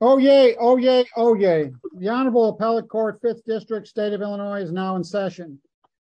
Oh, yay. Oh, yay. Oh, yay. The Honorable Appellate Court, 5th District, State of Illinois is now in session.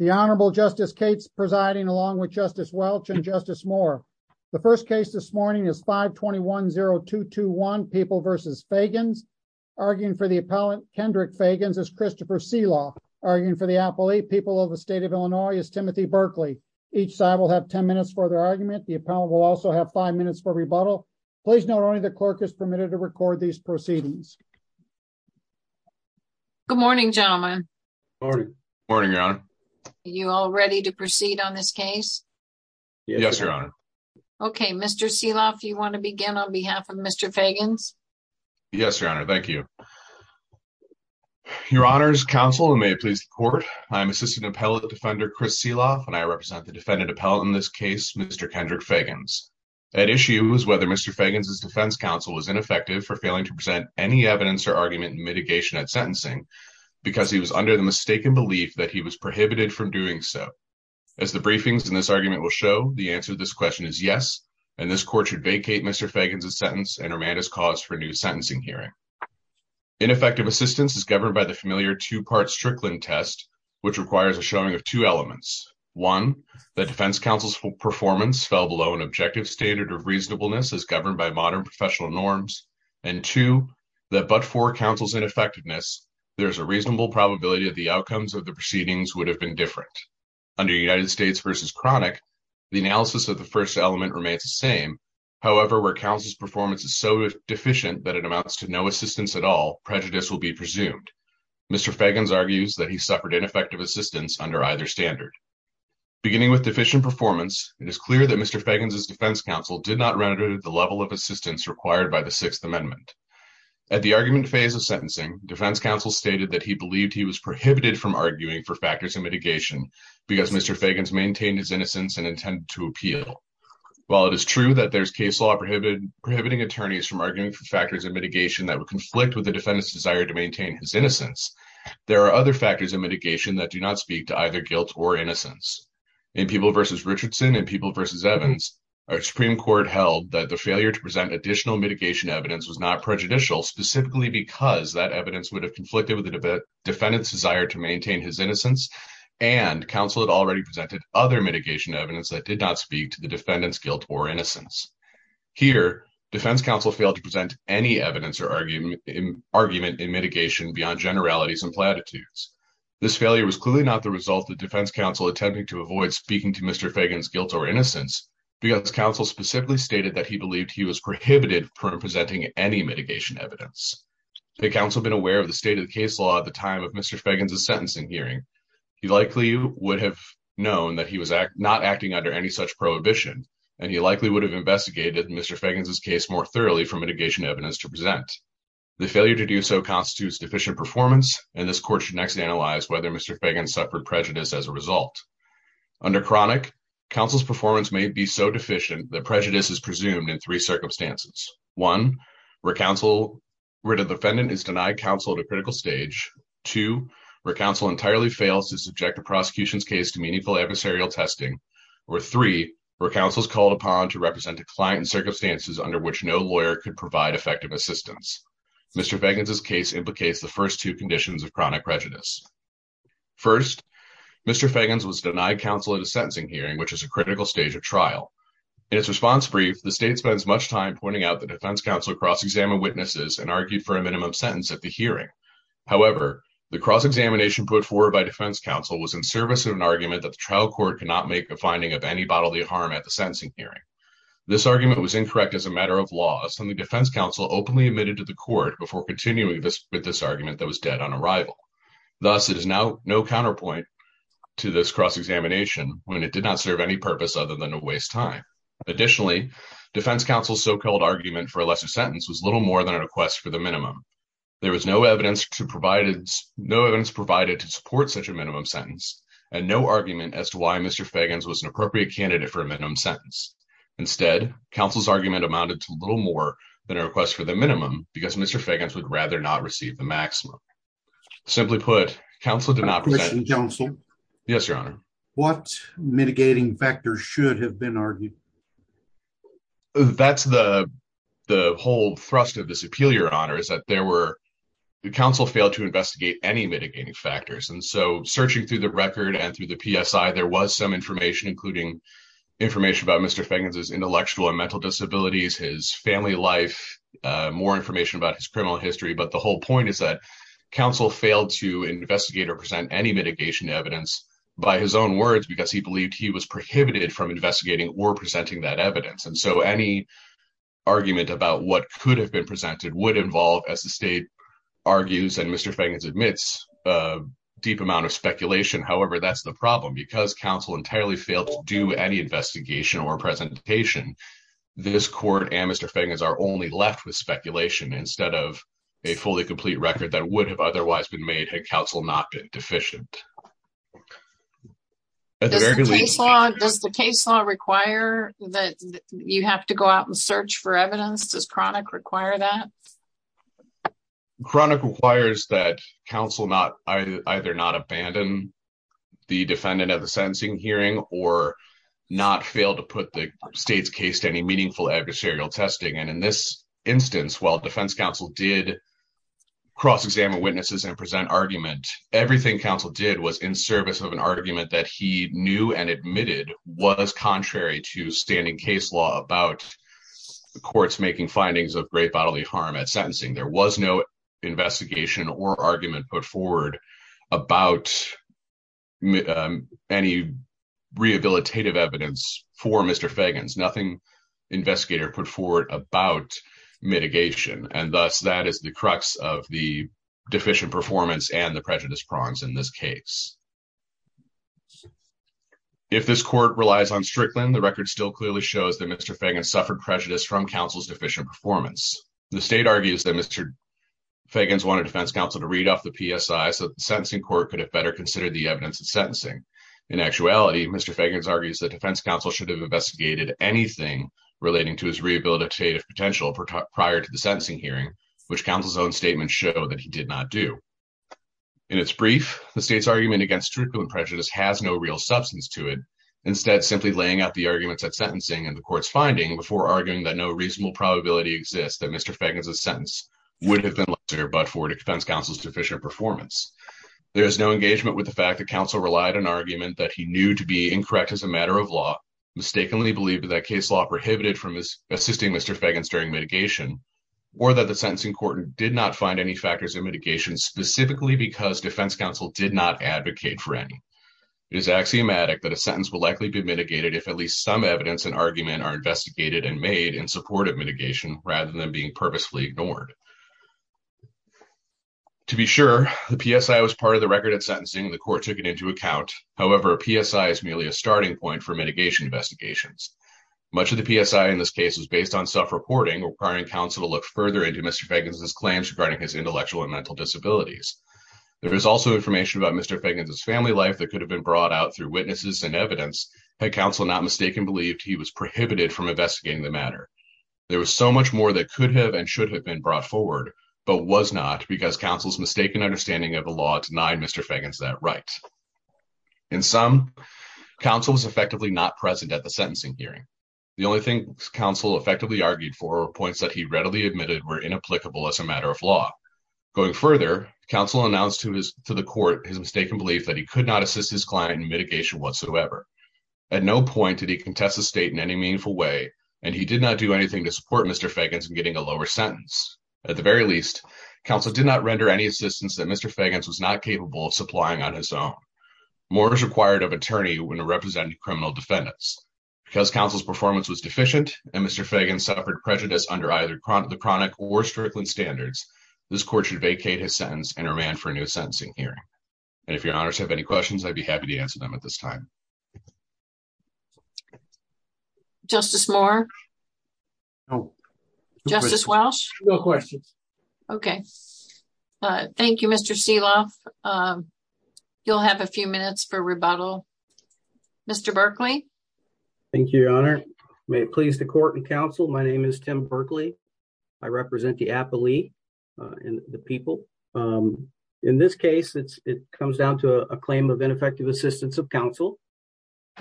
The Honorable Justice Cates presiding along with Justice Welch and Justice Moore. The first case this morning is 5-21-0-2-2-1, People v. Feggins. Arguing for the appellant, Kendrick Feggins, is Christopher Selah. Arguing for the appellate, People of the State of Illinois, is Timothy Berkley. Each side will have ten minutes for their argument. The appellant will also have five minutes for rebuttal. Please note only the clerk is permitted to proceed. Good morning, gentlemen. Morning. Morning, Your Honor. You all ready to proceed on this case? Yes, Your Honor. Okay, Mr. Selah, if you want to begin on behalf of Mr. Feggins. Yes, Your Honor. Thank you. Your Honors Counsel, and may it please the court. I'm assistant appellate defender Chris Selah and I represent the defendant appellate in this case, Mr. Kendrick Feggins. That issue was whether Mr. Feggins' defense counsel was ineffective for failing to present any evidence or argument in mitigation at sentencing because he was under the mistaken belief that he was prohibited from doing so. As the briefings in this argument will show, the answer to this question is yes, and this court should vacate Mr. Feggins' sentence and remand his cause for a new sentencing hearing. Ineffective assistance is governed by the familiar two-part Strickland test, which requires a showing of two elements. One, that defense counsel's performance fell below an objective standard of reasonableness as governed by modern professional norms, and two, that but for counsel's ineffectiveness, there's a reasonable probability that the outcomes of the proceedings would have been different. Under United States v. Chronic, the analysis of the first element remains the same. However, where counsel's performance is so deficient that it amounts to no assistance at all, prejudice will be presumed. Mr. Feggins argues that he suffered ineffective assistance under either standard. Beginning with deficient performance, it is clear that Mr. Feggins' defense counsel did not render the level of assistance required by the Sixth Amendment. At the argument phase of sentencing, defense counsel stated that he believed he was prohibited from arguing for factors of mitigation because Mr. Feggins maintained his innocence and intended to appeal. While it is true that there's case law prohibiting attorneys from arguing for factors of mitigation that would conflict with the defendant's desire to maintain his innocence, there are other factors of mitigation that do not speak to either guilt or innocence. In People v. Richardson and People v. Evans, our Supreme Court held that the failure to present additional mitigation evidence was not prejudicial, specifically because that evidence would have conflicted with the defendant's desire to maintain his innocence, and counsel had already presented other mitigation evidence that did not speak to the defendant's guilt or innocence. Here, defense counsel failed to present any evidence or argument in mitigation beyond generalities and platitudes. This failure was clearly not the result of defense counsel attempting to avoid speaking to Mr. Feggins' guilt or innocence because counsel specifically stated that he believed he was prohibited from presenting any mitigation evidence. Had counsel been aware of the state of the case law at the time of Mr. Feggins' sentencing hearing, he likely would have known that he was not acting under any such prohibition, and he likely would have investigated Mr. Feggins' case more thoroughly for mitigation evidence to present. The failure to do so constitutes deficient performance, and this Court should next analyze whether Mr. Feggins suffered prejudice as a result. Under Chronic, counsel's performance may be so deficient that prejudice is presumed in three circumstances. One, where counsel, where the defendant is denied counsel at a critical stage. Two, where counsel entirely fails to subject a prosecution's case to meaningful adversarial testing. Or three, where counsel is called upon to represent a client in circumstances under which no lawyer could provide effective assistance. Mr. Feggins' case implicates the first two conditions of chronic prejudice. First, Mr. Feggins was denied counsel at a sentencing hearing, which is a critical stage of trial. In his response brief, the state spends much time pointing out that defense counsel cross-examined witnesses and argued for a minimum sentence at the hearing. However, the cross-examination put forward by defense counsel was in service of an argument that the trial court could not make a finding of any bodily harm at the sentencing hearing. This argument was incorrect as a matter of court before continuing with this argument that was dead on arrival. Thus, it is now no counterpoint to this cross-examination when it did not serve any purpose other than to waste time. Additionally, defense counsel's so-called argument for a lesser sentence was little more than a request for the minimum. There was no evidence provided to support such a minimum sentence and no argument as to why Mr. Feggins was an appropriate candidate for a minimum sentence. Instead, counsel's argument amounted to little more than a request for the minimum because Mr. Feggins would rather not receive the maximum. Simply put, counsel did not- Commissioner Johnstone? Yes, Your Honor. What mitigating factors should have been argued? That's the whole thrust of this appeal, Your Honor, is that there were, counsel failed to investigate any mitigating factors. And so, searching through the record and through the PSI, there was some information, including information about Mr. Feggins' intellectual and mental disabilities, his family life, more information about his criminal history. But the whole point is that counsel failed to investigate or present any mitigation evidence by his own words because he believed he was prohibited from investigating or presenting that evidence. And so, any argument about what could have been presented would involve, as the state argues and Mr. Feggins admits, a deep amount of speculation. However, that's the problem. Because counsel entirely failed to do any investigation or presentation, this court and Mr. Feggins are only left with speculation instead of a fully complete record that would have otherwise been made had counsel not been deficient. Does the case law require that you have to go out and search for evidence? Does chronic require that? Chronic requires that counsel not either not abandon the defendant at the sentencing hearing or not fail to put the state's case to any meaningful adversarial testing. And in this instance, while defense counsel did cross-examine witnesses and present argument, everything counsel did was in service of an argument that he knew and admitted was contrary to great bodily harm at sentencing. There was no investigation or argument put forward about any rehabilitative evidence for Mr. Feggins. Nothing investigator put forward about mitigation. And thus, that is the crux of the deficient performance and the prejudice prongs in this case. If this court relies on Strickland, the record still clearly shows that Mr. Feggins suffered prejudice from counsel's deficient performance. The state argues that Mr. Feggins wanted defense counsel to read off the PSI so that the sentencing court could have better considered the evidence of sentencing. In actuality, Mr. Feggins argues that defense counsel should have investigated anything relating to his rehabilitative potential prior to the sentencing hearing, which counsel's own statements show that he did not do. In its brief, the state's argument against Strickland prejudice has no real substance to it, instead simply laying out the arguments at sentencing and the court's finding before arguing that no reasonable probability exists that Mr. Feggins' sentence would have been lesser but for defense counsel's deficient performance. There is no engagement with the fact that counsel relied on argument that he knew to be incorrect as a matter of law, mistakenly believed that case law prohibited from assisting Mr. Feggins during mitigation, or that the sentencing court did not find any factors of mitigation specifically because defense counsel did not advocate for any. It is axiomatic that a sentence will likely be mitigated if at least some evidence and argument are investigated and made in support of mitigation rather than being purposefully ignored. To be sure, the PSI was part of the record at sentencing and the court took it into account. However, a PSI is merely a starting point for mitigation investigations. Much of the PSI in this case was based on self-reporting, requiring counsel to look further into Mr. Feggins' claims regarding his intellectual and mental disabilities. There is also information about Mr. Feggins' family life that could have been brought out through witnesses and counsel not mistakenly believed he was prohibited from investigating the matter. There was so much more that could have and should have been brought forward but was not because counsel's mistaken understanding of the law denied Mr. Feggins that right. In sum, counsel was effectively not present at the sentencing hearing. The only things counsel effectively argued for were points that he readily admitted were inapplicable as a matter of law. Going further, counsel announced to the court his mistaken belief that he could not assist his client in mitigation whatsoever. At no point did he contest the state in any meaningful way and he did not do anything to support Mr. Feggins in getting a lower sentence. At the very least, counsel did not render any assistance that Mr. Feggins was not capable of supplying on his own. More was required of an attorney when representing criminal defendants. Because counsel's performance was deficient and Mr. Feggins suffered prejudice under either the chronic or strickland standards, this court should vacate his sentence and remand for him at this time. Justice Moore? No. Justice Welsh? No questions. Okay. Thank you, Mr. Seeloff. You'll have a few minutes for rebuttal. Mr. Berkley? Thank you, Your Honor. May it please the court and counsel, my name is Tim Berkley. I represent the appellee and the people. In this case it comes down to a claim of ineffective assistance of counsel.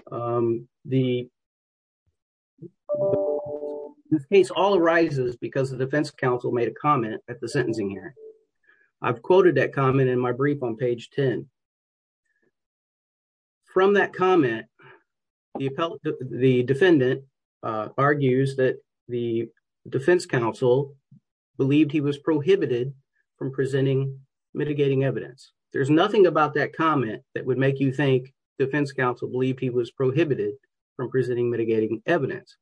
The case all arises because the defense counsel made a comment at the sentencing hearing. I've quoted that comment in my brief on page 10. From that comment, the defendant argues that the defense counsel believed he was prohibited from presenting mitigating evidence. There's nothing about that comment that would make defense counsel believe he was prohibited from presenting mitigating evidence.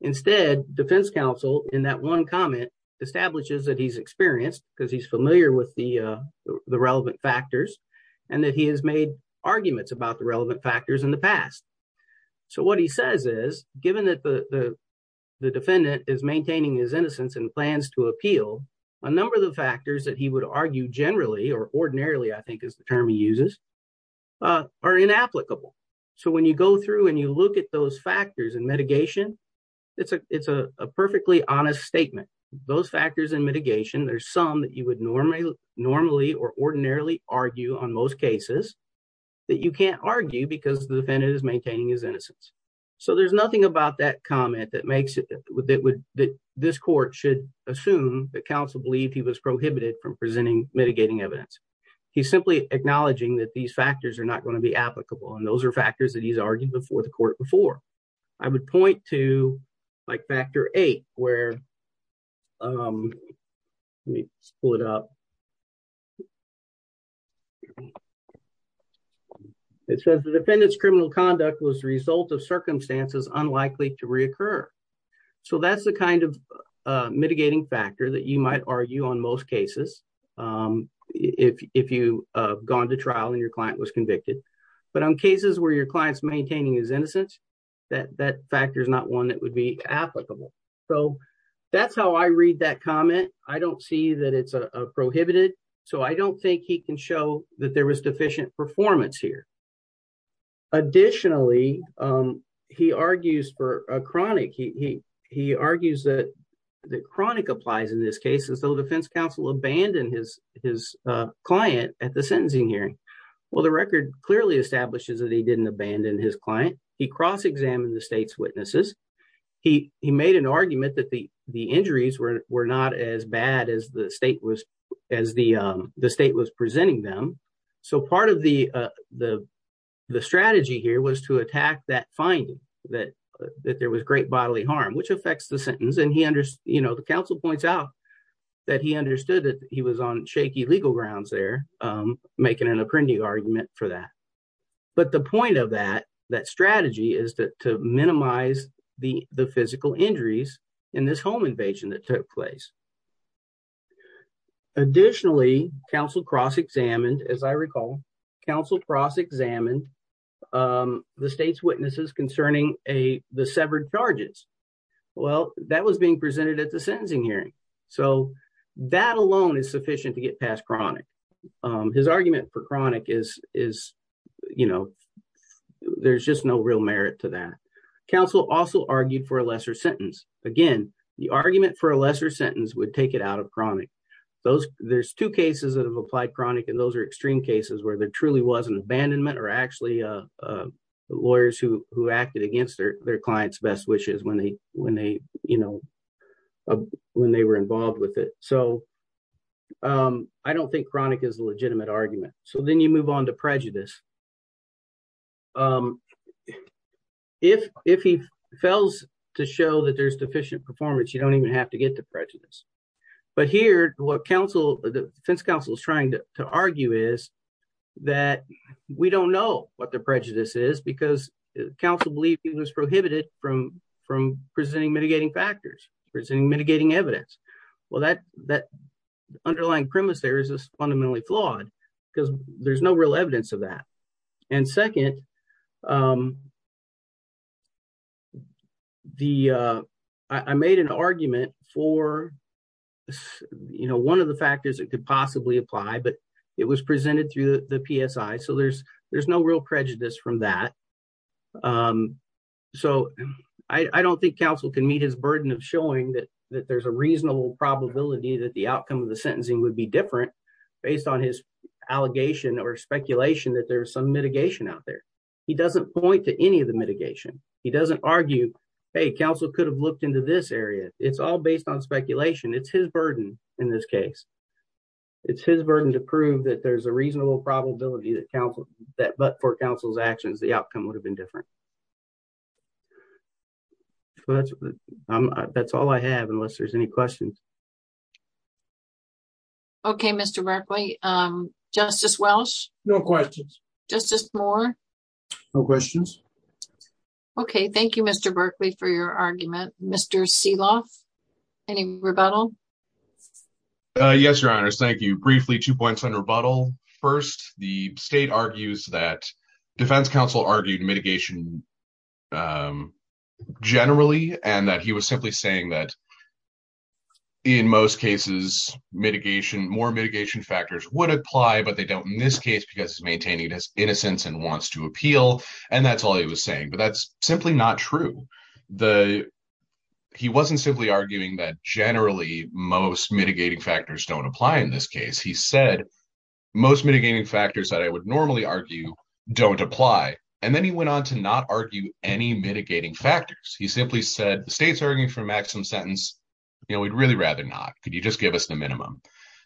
Instead, defense counsel in that one comment establishes that he's experienced because he's familiar with the relevant factors and that he has made arguments about the relevant factors in the past. So what he says is, given that the defendant is maintaining his innocence and plans to appeal, a number of the factors that he would argue generally or ordinarily I think is the term he uses are inapplicable. So when you go through and you look at those factors in mitigation, it's a perfectly honest statement. Those factors in mitigation, there's some that you would normally or ordinarily argue on most cases that you can't argue because the defendant is maintaining his innocence. So there's nothing about that comment that this court should assume that counsel believed he was prohibited from presenting mitigating evidence. He's simply acknowledging that these factors are not going to be applicable and those are factors that he's argued before the court before. I would point to like factor eight where, let me pull it up. It says the defendant's criminal conduct was the result of circumstances unlikely to reoccur. So that's the kind of mitigating factor that you might argue on most cases if you have gone to trial and your client was convicted. But on cases where your client's maintaining his innocence, that factor is not one that would be applicable. So that's how I read that comment. I don't see that it's a prohibited. So I don't think he can show that there was deficient performance here. Additionally, he argues for a chronic, he argues that the chronic applies in this case as though the defense counsel abandoned his client at the sentencing hearing. Well, the record clearly establishes that he didn't abandon his client. He cross-examined the state's witnesses. He made an argument that the injuries were not as bad as the state was presenting them. So part of the strategy here was to attack that finding that there was great bodily harm, which affects the sentence. And the counsel points out that he understood that he was on shaky legal grounds there, making an appending argument for that. But the point of that strategy is to minimize the physical injuries in this home invasion that took place. Additionally, counsel cross-examined, as I recall, counsel cross-examined the state's concerning the severed charges. Well, that was being presented at the sentencing hearing. So that alone is sufficient to get past chronic. His argument for chronic is, you know, there's just no real merit to that. Counsel also argued for a lesser sentence. Again, the argument for a lesser sentence would take it out of chronic. There's two cases that have applied chronic and those are extreme cases where there truly was an abandonment or actually the lawyers who acted against their clients' best wishes when they were involved with it. So I don't think chronic is a legitimate argument. So then you move on to prejudice. If he fails to show that there's deficient performance, you don't even have to get to prejudice. But here, what defense counsel is trying to argue is that we don't know what the prejudice is because counsel believed it was prohibited from presenting mitigating factors, presenting mitigating evidence. Well, that underlying premise there is fundamentally flawed because there's no real evidence of that. And second, I made an argument for, you know, one of the factors that could possibly apply, but it was presented through the PSI. So there's no real prejudice from that. So I don't think counsel can meet his burden of showing that there's a reasonable probability that the outcome of the sentencing would be different based on his allegation or speculation that there's some mitigation out there. He doesn't point to any of the mitigation. He doesn't argue, hey, counsel could have looked into this area. It's all based on speculation. It's his burden in this case. It's his burden to prove that there's a reasonable probability that but for counsel's actions, the outcome would have been different. That's all I have, unless there's any questions. Okay, Mr. Berkley. Justice Welch? No questions. Justice Moore? No questions. Okay. Thank you, Mr. Berkley, for your argument. Mr. Seloff, any rebuttal? Yes, Your Honors. Thank you. Briefly, two points on rebuttal. First, the state argues that defense counsel argued mitigation generally, and that he was simply saying that in most cases, more mitigation factors would apply, but they don't in this case, because he's maintaining his innocence and wants to appeal. And that's all he was saying. That's simply not true. He wasn't simply arguing that generally, most mitigating factors don't apply in this case. He said, most mitigating factors that I would normally argue don't apply. And then he went on to not argue any mitigating factors. He simply said, the state's arguing for maximum sentence. We'd really rather not. Could you just give us the minimum?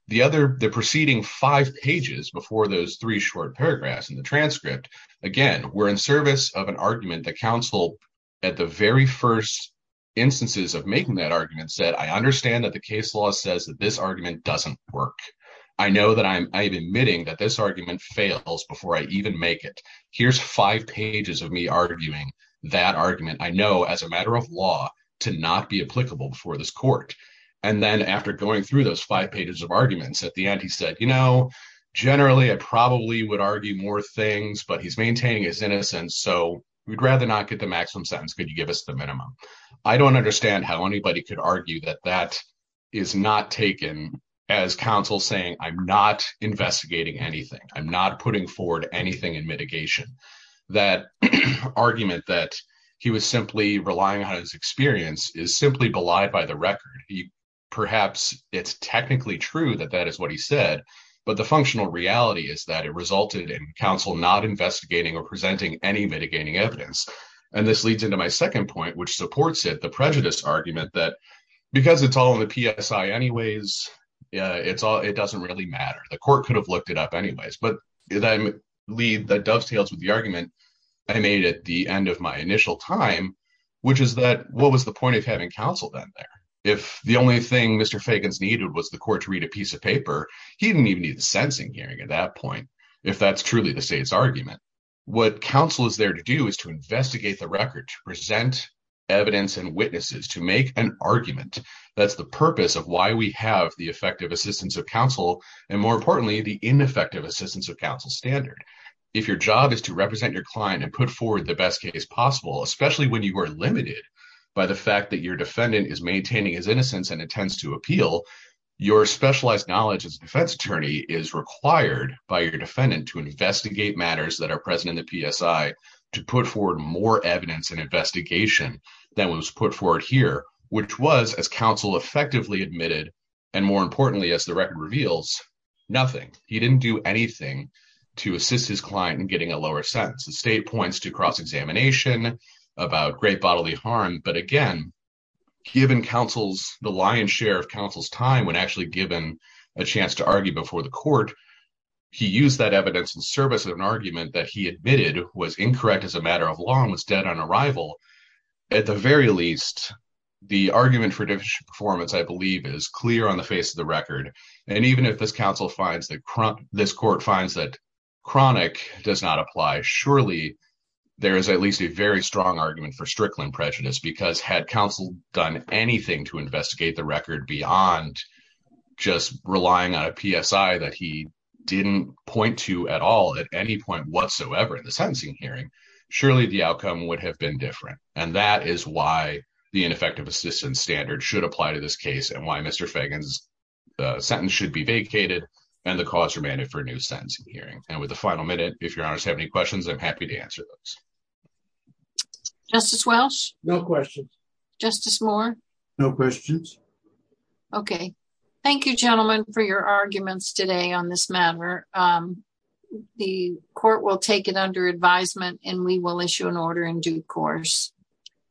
The other, the preceding five pages before those three short paragraphs in the transcript, again, were in the argument that counsel, at the very first instances of making that argument, said, I understand that the case law says that this argument doesn't work. I know that I'm admitting that this argument fails before I even make it. Here's five pages of me arguing that argument. I know as a matter of law to not be applicable before this court. And then after going through those five pages of arguments, at the end, he said, you know, generally, I probably would argue more things, but he's maintaining his innocence. So we'd rather not get the maximum sentence. Could you give us the minimum? I don't understand how anybody could argue that that is not taken as counsel saying, I'm not investigating anything. I'm not putting forward anything in mitigation. That argument that he was simply relying on his experience is simply belied by the record. Perhaps it's technically true that that is what he said, but the functional reality is that it resulted in counsel not investigating or presenting any mitigating evidence. And this leads into my second point, which supports it, the prejudice argument that because it's all in the PSI anyways, it doesn't really matter. The court could have looked it up anyways. But that dovetails with the argument I made at the end of my initial time, which is that what was the point of having counsel then there? If the only thing Mr. Fagans needed was the court to at that point, if that's truly the state's argument, what counsel is there to do is to investigate the record, to present evidence and witnesses, to make an argument. That's the purpose of why we have the effective assistance of counsel, and more importantly, the ineffective assistance of counsel standard. If your job is to represent your client and put forward the best case possible, especially when you are limited by the fact that your defendant is maintaining his innocence and specialized knowledge as a defense attorney is required by your defendant to investigate matters that are present in the PSI, to put forward more evidence and investigation than was put forward here, which was, as counsel effectively admitted, and more importantly, as the record reveals, nothing. He didn't do anything to assist his client in getting a lower sentence. The state points to cross-examination about great bodily harm. But again, given counsel's, the lion's share of counsel's time, when actually given a chance to argue before the court, he used that evidence in service of an argument that he admitted was incorrect as a matter of law and was dead on arrival. At the very least, the argument for judicial performance, I believe, is clear on the face of the record. And even if this counsel finds that, this court finds that chronic does not apply, surely there is at least a very strong argument for Strickland prejudice because had counsel done anything to investigate the record beyond just relying on a PSI that he didn't point to at all at any point whatsoever in the sentencing hearing, surely the outcome would have been different. And that is why the ineffective assistance standard should apply to this case and why Mr. Fagan's sentence should be vacated and the cause remanded for a new sentencing hearing. And with the final minute, if your honors have any questions, I'm happy to no questions. Justice Moore. No questions. Okay. Thank you, gentlemen, for your arguments today on this matter. The court will take it under advisement and we will issue an order in due course.